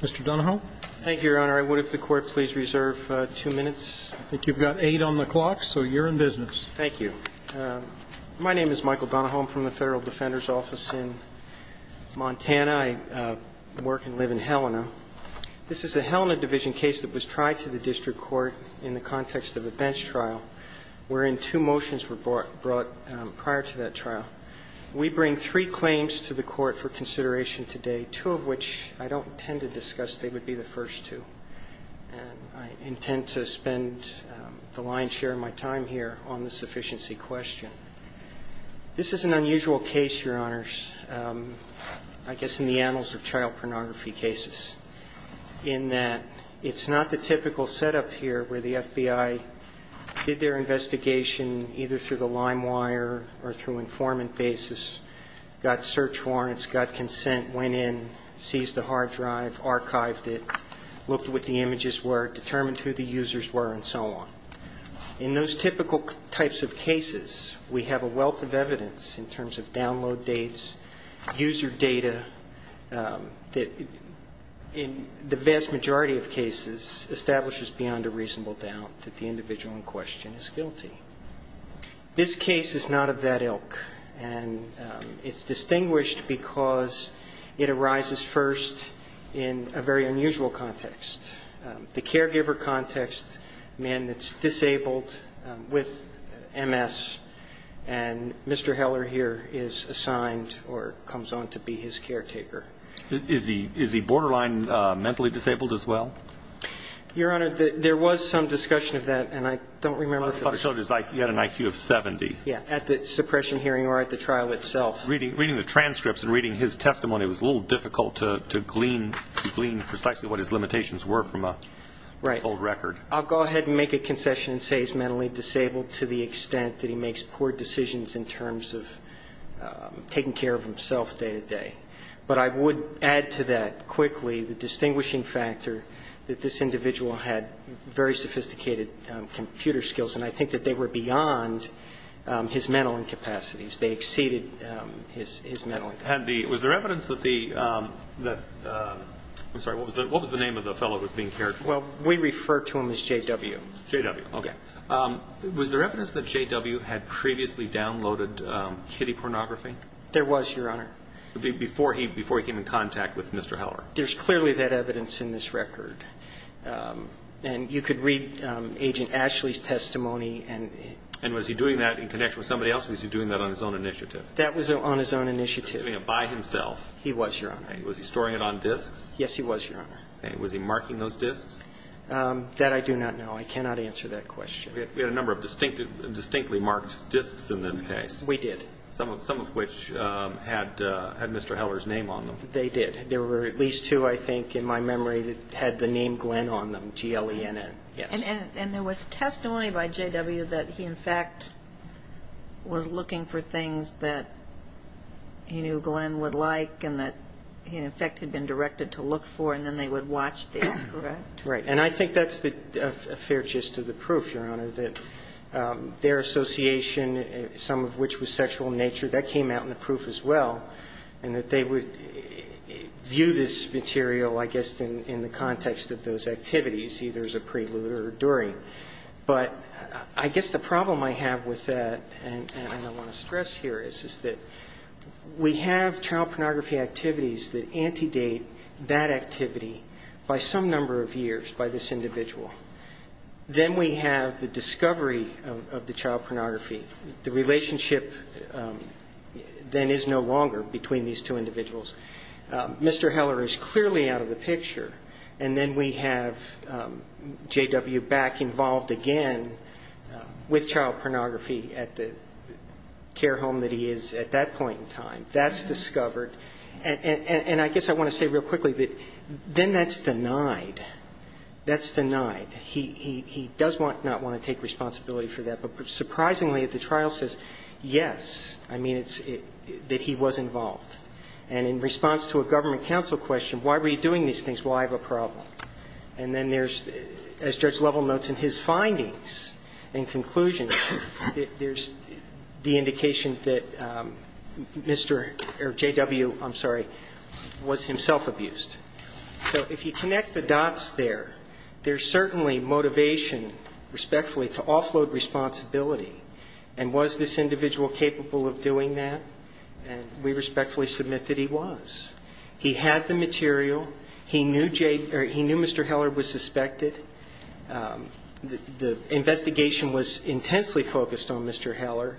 Mr. Donahoe. Thank you, Your Honor. I would, if the Court please reserve two minutes. I think you've got eight on the clock, so you're in business. Thank you. My name is Michael Donahoe. I'm from the Federal Defender's Office in Montana. I work and live in Helena. This is a Helena Division case that was tried to the district court in the context of a bench trial wherein two motions were brought prior to that trial. We bring three claims to the Court for consideration today, two of which I don't intend to discuss. They would be the first two. And I intend to spend the lion's share of my time here on the sufficiency question. This is an unusual case, Your Honors, I guess in the annals of child pornography cases, in that it's not the typical setup here where the FBI did their investigation either through the lime wire or through informant basis, got search warrants, got consent, went in, seized the hard drive, archived it, looked at what the images were, determined who the users were, and so on. In those typical types of cases we have a wealth of evidence in terms of download dates, user data that in the vast majority of cases establishes beyond a reasonable doubt that the individual in question is guilty. This case is not of that ilk. And it's distinguished because it arises first in a very unusual context. The caregiver context, man that's disabled with MS, and Mr. Heller here is assigned or comes on to be his caretaker. Is he borderline mentally disabled as well? Your Honor, there was some discussion of that, and I don't remember. You had an IQ of 70. Yeah, at the suppression hearing or at the trial itself. Reading the transcripts and reading his testimony, it was a little difficult to glean precisely what his limitations were from a full record. Right. I'll go ahead and make a concession and say he's mentally disabled to the extent that he makes poor decisions in terms of taking care of himself day to day. But I would add to that quickly the distinguishing factor that this individual had very sophisticated computer skills, and I think that they were beyond his mental incapacities. They exceeded his mental incapacities. And was there evidence that the, I'm sorry, what was the name of the fellow who was being cared for? Well, we refer to him as J.W. J.W., okay. Was there evidence that J.W. had previously downloaded kiddie pornography? There was, Your Honor. Before he came in contact with Mr. Heller? There's clearly that evidence in this record. And you could read Agent Ashley's testimony. And was he doing that in connection with somebody else, or was he doing that on his own initiative? That was on his own initiative. Doing it by himself? He was, Your Honor. Was he storing it on disks? Yes, he was, Your Honor. Okay. Was he marking those disks? That I do not know. I cannot answer that question. We had a number of distinctly marked disks in this case. We did. Some of which had Mr. Heller's name on them. They did. There were at least two, I think, in my memory that had the name Glenn on them, G-L-E-N-N. Yes. And there was testimony by J.W. that he, in fact, was looking for things that he knew Glenn would like and that he, in fact, had been directed to look for, and then they would watch these, correct? Right. And I think that's a fair gist of the proof, Your Honor, that their association, some of which was sexual in nature, that came out in the proof as well, and that they would view this material, I guess, in the context of those activities. You see there's a prelude or a during. But I guess the problem I have with that, and I want to stress here, is that we have child pornography activities that antedate that activity by some number of years by this individual. Then we have the discovery of the child pornography. The relationship then is no longer between these two individuals. Mr. Heller is clearly out of the picture. And then we have J.W. back involved again with child pornography at the care home that he is at that point in time. That's discovered. And I guess I want to say real quickly that then that's denied. That's denied. He does not want to take responsibility for that. But surprisingly, the trial says, yes, I mean, that he was involved. And in response to a government counsel question, why were you doing these things? Well, I have a problem. And then there's, as Judge Lovell notes in his findings and conclusions, there's the indication that Mr. or J.W., I'm sorry, was himself abused. So if you connect the dots there, there's certainly motivation, respectfully, to offload responsibility. And was this individual capable of doing that? No. And we respectfully submit that he was. He had the material. He knew Mr. Heller was suspected. The investigation was intensely focused on Mr. Heller.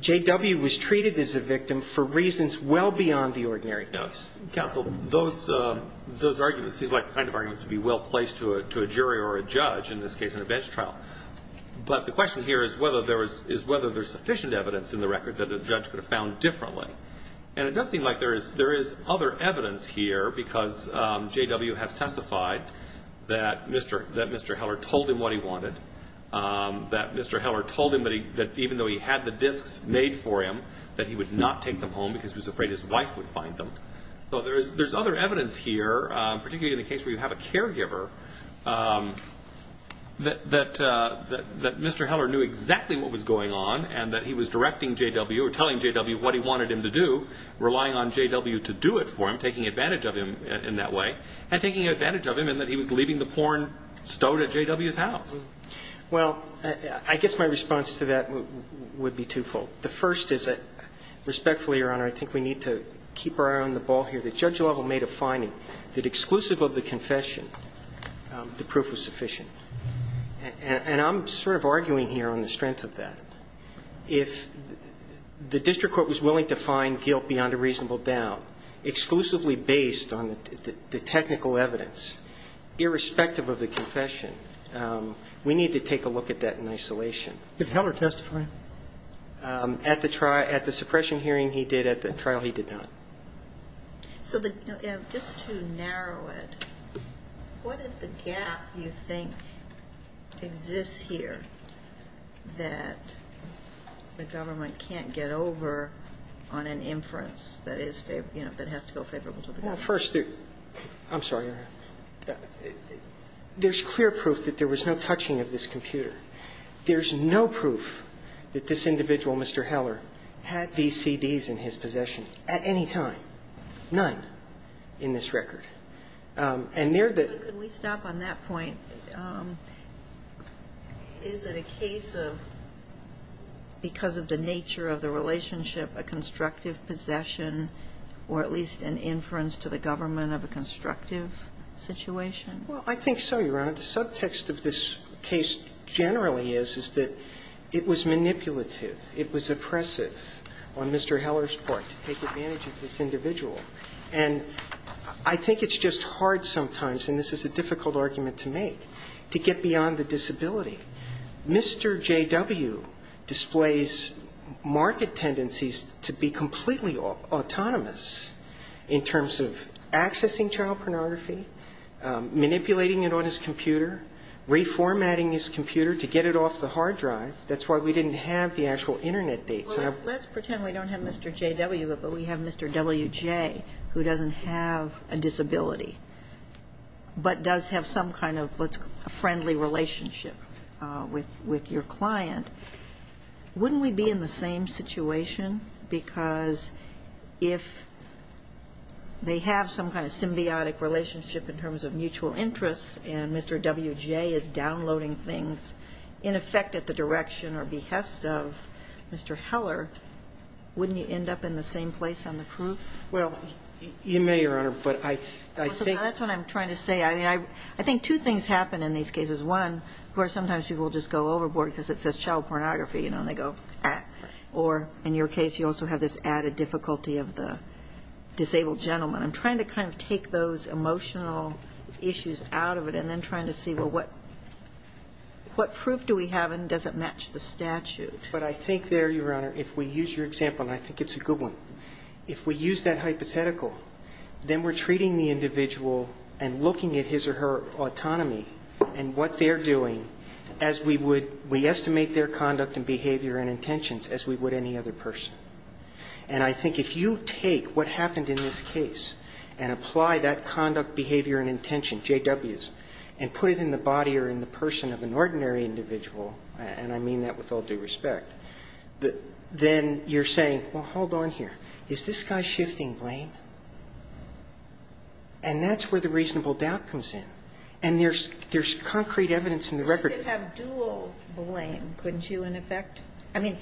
J.W. was treated as a victim for reasons well beyond the ordinary case. Counsel, those arguments seem like the kind of arguments that would be well placed to a jury or a judge, in this case, in a bench trial. But the question here is whether there's sufficient evidence in the record that a judge could have found differently. And it does seem like there is other evidence here, because J.W. has testified that Mr. Heller told him what he wanted, that Mr. Heller told him that even though he had the disks made for him, that he would not take them home because he was afraid his wife would find them. So there's other evidence here, particularly in the case where you have a caregiver, that Mr. Heller knew exactly what was going on and that he was directing J.W. or telling J.W. what he wanted him to do, relying on J.W. to do it for him, taking advantage of him in that way, and taking advantage of him in that he was leaving the porn stowed at J.W.'s house. Well, I guess my response to that would be twofold. The first is that, respectfully, Your Honor, I think we need to keep our eye on the ball here. The judge level made a finding that exclusive of the confession, the proof was sufficient. And I'm sort of arguing here on the strength of that. If the district court was willing to find guilt beyond a reasonable doubt, exclusively based on the technical evidence, irrespective of the confession, we need to take a look at that in isolation. Could Heller testify? At the suppression hearing, he did. At the trial, he did not. So just to narrow it, what is the gap you think exists here that the government can't get over on an inference that has to go favorable to the government? Well, first, I'm sorry, Your Honor. There's clear proof that there was no touching of this computer. There's no proof that this individual, Mr. Heller, had these CDs in his possession at any time. None in this record. And there the ---- Could we stop on that point? Is it a case of because of the nature of the relationship, a constructive possession or at least an inference to the government of a constructive situation? Well, I think so, Your Honor. The subtext of this case generally is, is that it was manipulative. It was oppressive on Mr. Heller's part to take advantage of this individual. And I think it's just hard sometimes, and this is a difficult argument to make, to get beyond the disability. Mr. J.W. displays market tendencies to be completely autonomous in terms of accessing child pornography, manipulating it on his computer, reformatting his computer to get it off the hard drive. That's why we didn't have the actual Internet dates. Let's pretend we don't have Mr. J.W., but we have Mr. W.J., who doesn't have a disability, but does have some kind of a friendly relationship with your client. Wouldn't we be in the same situation? Because if they have some kind of symbiotic relationship in terms of mutual interests and Mr. W.J. is downloading things in effect at the direction or behest of Mr. Heller, wouldn't you end up in the same place on the proof? Well, you may, Your Honor, but I think that's what I'm trying to say. I mean, I think two things happen in these cases. One, of course, sometimes people just go overboard because it says child pornography, you know, and they go, ah. Or in your case, you also have this added difficulty of the disabled gentleman. I'm trying to kind of take those emotional issues out of it and then trying to see, well, what proof do we have and does it match the statute? But I think there, Your Honor, if we use your example, and I think it's a good one, if we use that hypothetical, then we're treating the individual and looking at his or her autonomy and what they're doing as we would we estimate their conduct and behavior and intentions as we would any other person. And I think if you take what happened in this case and apply that conduct, behavior, and intention, J.W.'s, and put it in the body or in the person of an ordinary individual, and I mean that with all due respect, then you're saying, well, hold on here. Is this guy shifting blame? And that's where the reasonable doubt comes in. And there's concrete evidence in the record. You could have dual blame, couldn't you, in effect? I mean,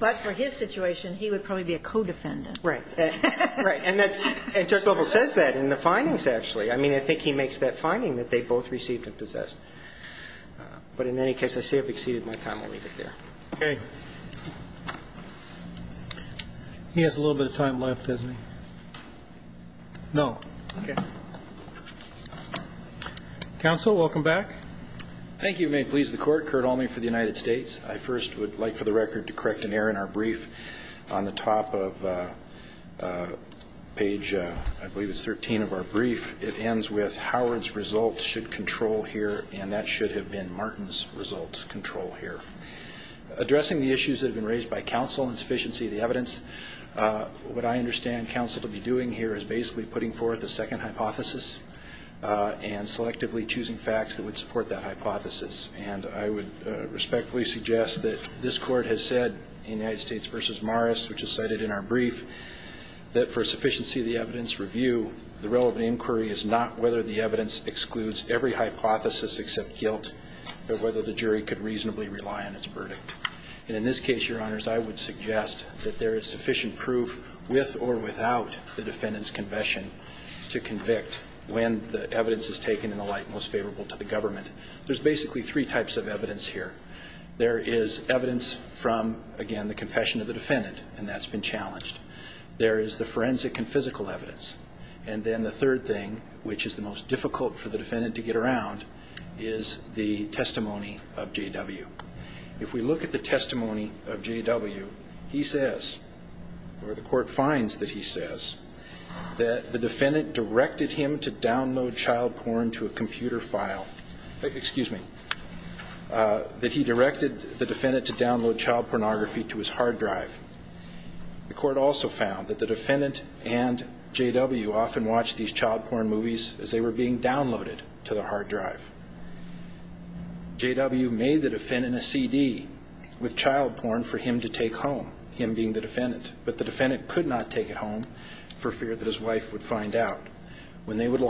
but for his situation, he would probably be a co-defendant. Right. Right. And that's, and Judge Lovell says that in the findings, actually. I mean, I think he makes that finding that they both received and possessed. But in any case, I see I've exceeded my time. I'll leave it there. Okay. He has a little bit of time left, doesn't he? No. Okay. Counsel, welcome back. Thank you. It may please the Court. Curt Almey for the United States. I first would like for the record to correct an error in our brief. On the top of page, I believe it's 13 of our brief, it ends with Howard's results should control here, and that should have been Martin's results control here. Addressing the issues that have been raised by counsel in sufficiency of the evidence, what I understand counsel to be doing here is basically putting forth a second hypothesis and selectively choosing facts that would support that hypothesis. And I would respectfully suggest that this Court has said in United States v. Morris, which is cited in our brief, that for sufficiency of the evidence review, the relevant inquiry is not whether the evidence excludes every hypothesis except guilt, but whether the jury could reasonably rely on its verdict. And in this case, Your Honors, I would suggest that there is sufficient proof with or without the defendant's confession to convict when the evidence is taken in the light most favorable to the government. There's basically three types of evidence here. There is evidence from, again, the confession of the defendant, and that's been challenged. There is the forensic and physical evidence. And then the third thing, which is the most difficult for the defendant to get around, is the testimony of J.W. If we look at the testimony of J.W., he says, or the Court finds that he says, that the defendant directed him to download child porn to a computer file. Excuse me. That he directed the defendant to download child pornography to his hard drive. The Court also found that the defendant and J.W. often watched these child porn movies as they were being downloaded to the hard drive. J.W. made the defendant a CD with child porn for him to take home, him being the defendant. But the defendant could not take it home for fear that his wife would find out. When they would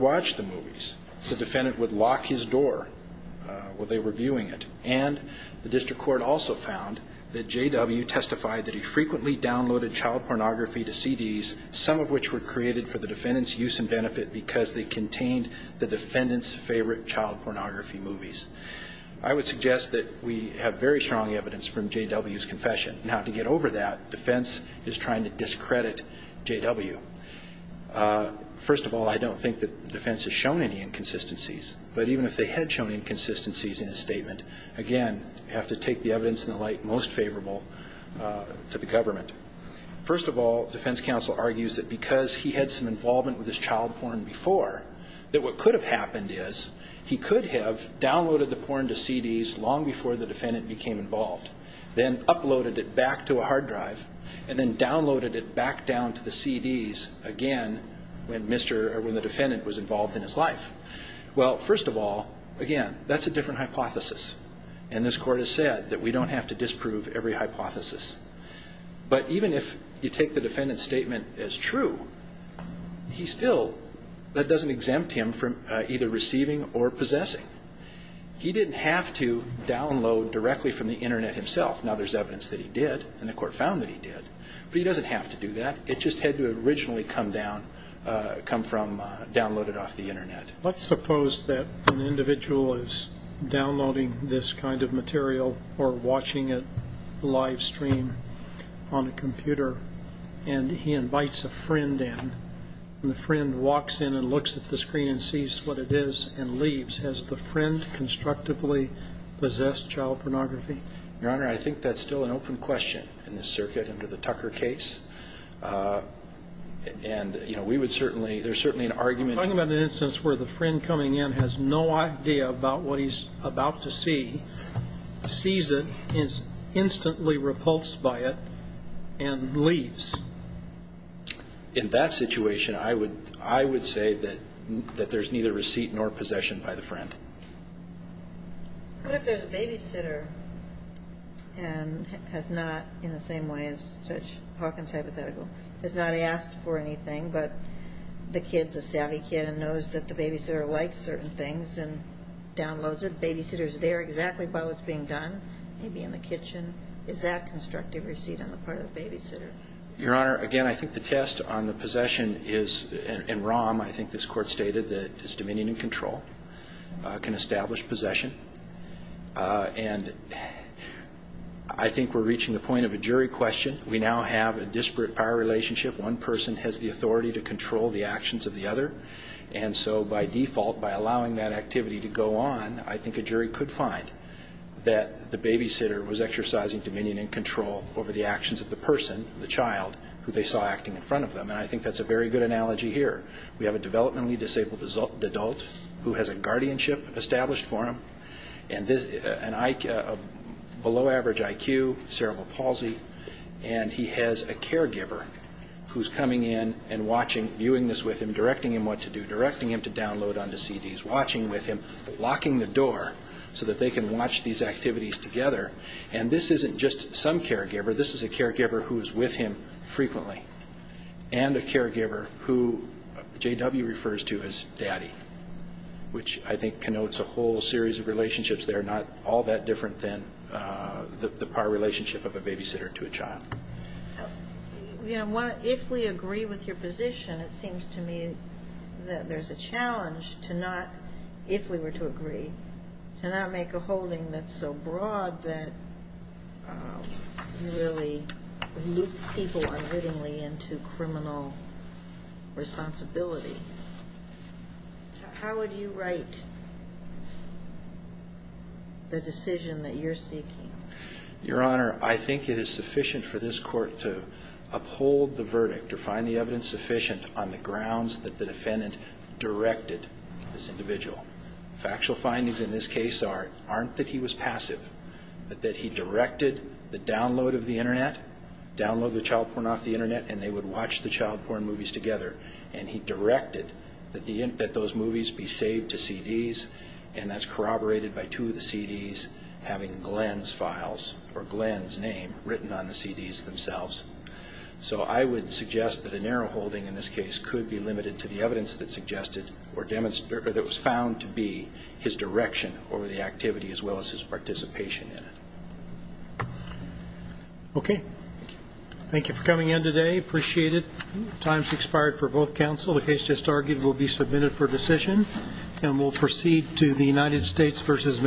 watch the movies, the defendant would lock his door while they were viewing it. And the District Court also found that J.W. testified that he frequently downloaded child pornography to CDs, some of which were created for the defendant's use and benefit because they contained the defendant's favorite child pornography movies. I would suggest that we have very strong evidence from J.W.'s confession. Now, to get over that, defense is trying to discredit J.W. First of all, I don't think that defense has shown any inconsistencies. But even if they had shown inconsistencies in his statement, again, you have to take the evidence in the light most favorable to the government. First of all, defense counsel argues that because he had some involvement with his child porn before, that what could have happened is he could have downloaded the porn to CDs long before the defendant became involved, then uploaded it back to a hard drive, and then downloaded it back down to the CDs again when the defendant was involved in his life. Well, first of all, again, that's a different hypothesis. And this Court has said that we don't have to disprove every hypothesis. But even if you take the defendant's statement as true, he still, that doesn't exempt him from either receiving or possessing. He didn't have to download directly from the Internet himself. Now, there's evidence that he did, and the Court found that he did. But he doesn't have to do that. It just had to have originally come down, come from, downloaded off the Internet. Let's suppose that an individual is downloading this kind of material or watching it live stream on a computer, and he invites a friend in. And the friend walks in and looks at the screen and sees what it is and leaves. Has the friend constructively possessed child pornography? Your Honor, I think that's still an open question in this circuit under the Tucker case. And, you know, we would certainly, there's certainly an argument. You're talking about an instance where the friend coming in has no idea about what he's about to see, sees it, is instantly repulsed by it, and leaves. In that situation, I would say that there's neither receipt nor possession by the friend. What if there's a babysitter and has not, in the same way as Judge Hawkins' hypothetical, has not asked for anything, but the kid's a savvy kid and knows that the babysitter likes certain things and downloads it. The babysitter's there exactly while it's being done, maybe in the kitchen. Is that constructive receipt on the part of the babysitter? Your Honor, again, I think the test on the possession is in ROM. I think this Court stated that it's dominion and control can establish possession. And I think we're reaching the point of a jury question. We now have a disparate power relationship. One person has the authority to control the actions of the other. And so by default, by allowing that activity to go on, I think a jury could find that the babysitter was exercising dominion and control over the actions of the person, the child, who they saw acting in front of them. And I think that's a very good analogy here. We have a developmentally disabled adult who has a guardianship established for him, a below-average IQ, cerebral palsy, and he has a caregiver who's coming in and watching, viewing this with him, directing him what to do, directing him to download onto CDs, watching with him, locking the door so that they can watch these activities together. And this isn't just some caregiver. This is a caregiver who is with him frequently and a caregiver who J.W. refers to as Daddy, which I think connotes a whole series of relationships that are not all that different than the power relationship of a babysitter to a child. If we agree with your position, it seems to me that there's a challenge to not, if we were to agree, to not make a holding that's so broad that you really loop people unwittingly into criminal responsibility. How would you write the decision that you're seeking? Your Honor, I think it is sufficient for this Court to uphold the verdict or find the evidence sufficient on the grounds that the defendant directed this individual. Factual findings in this case aren't that he was passive, but that he directed the download of the Internet, download the child porn off the Internet, and they would watch the child porn movies together. And he directed that those movies be saved to CDs, and that's corroborated by two of the CDs having Glenn's files or Glenn's name written on the CDs themselves. So I would suggest that a narrow holding in this case could be limited to the evidence that suggested or that was found to be his direction over the activity as well as his participation in it. Okay. Thank you for coming in today. Appreciate it. Time's expired for both counsel. The case just argued will be submitted for decision, and we'll proceed to the United States v. Mendoza-Rodriguez.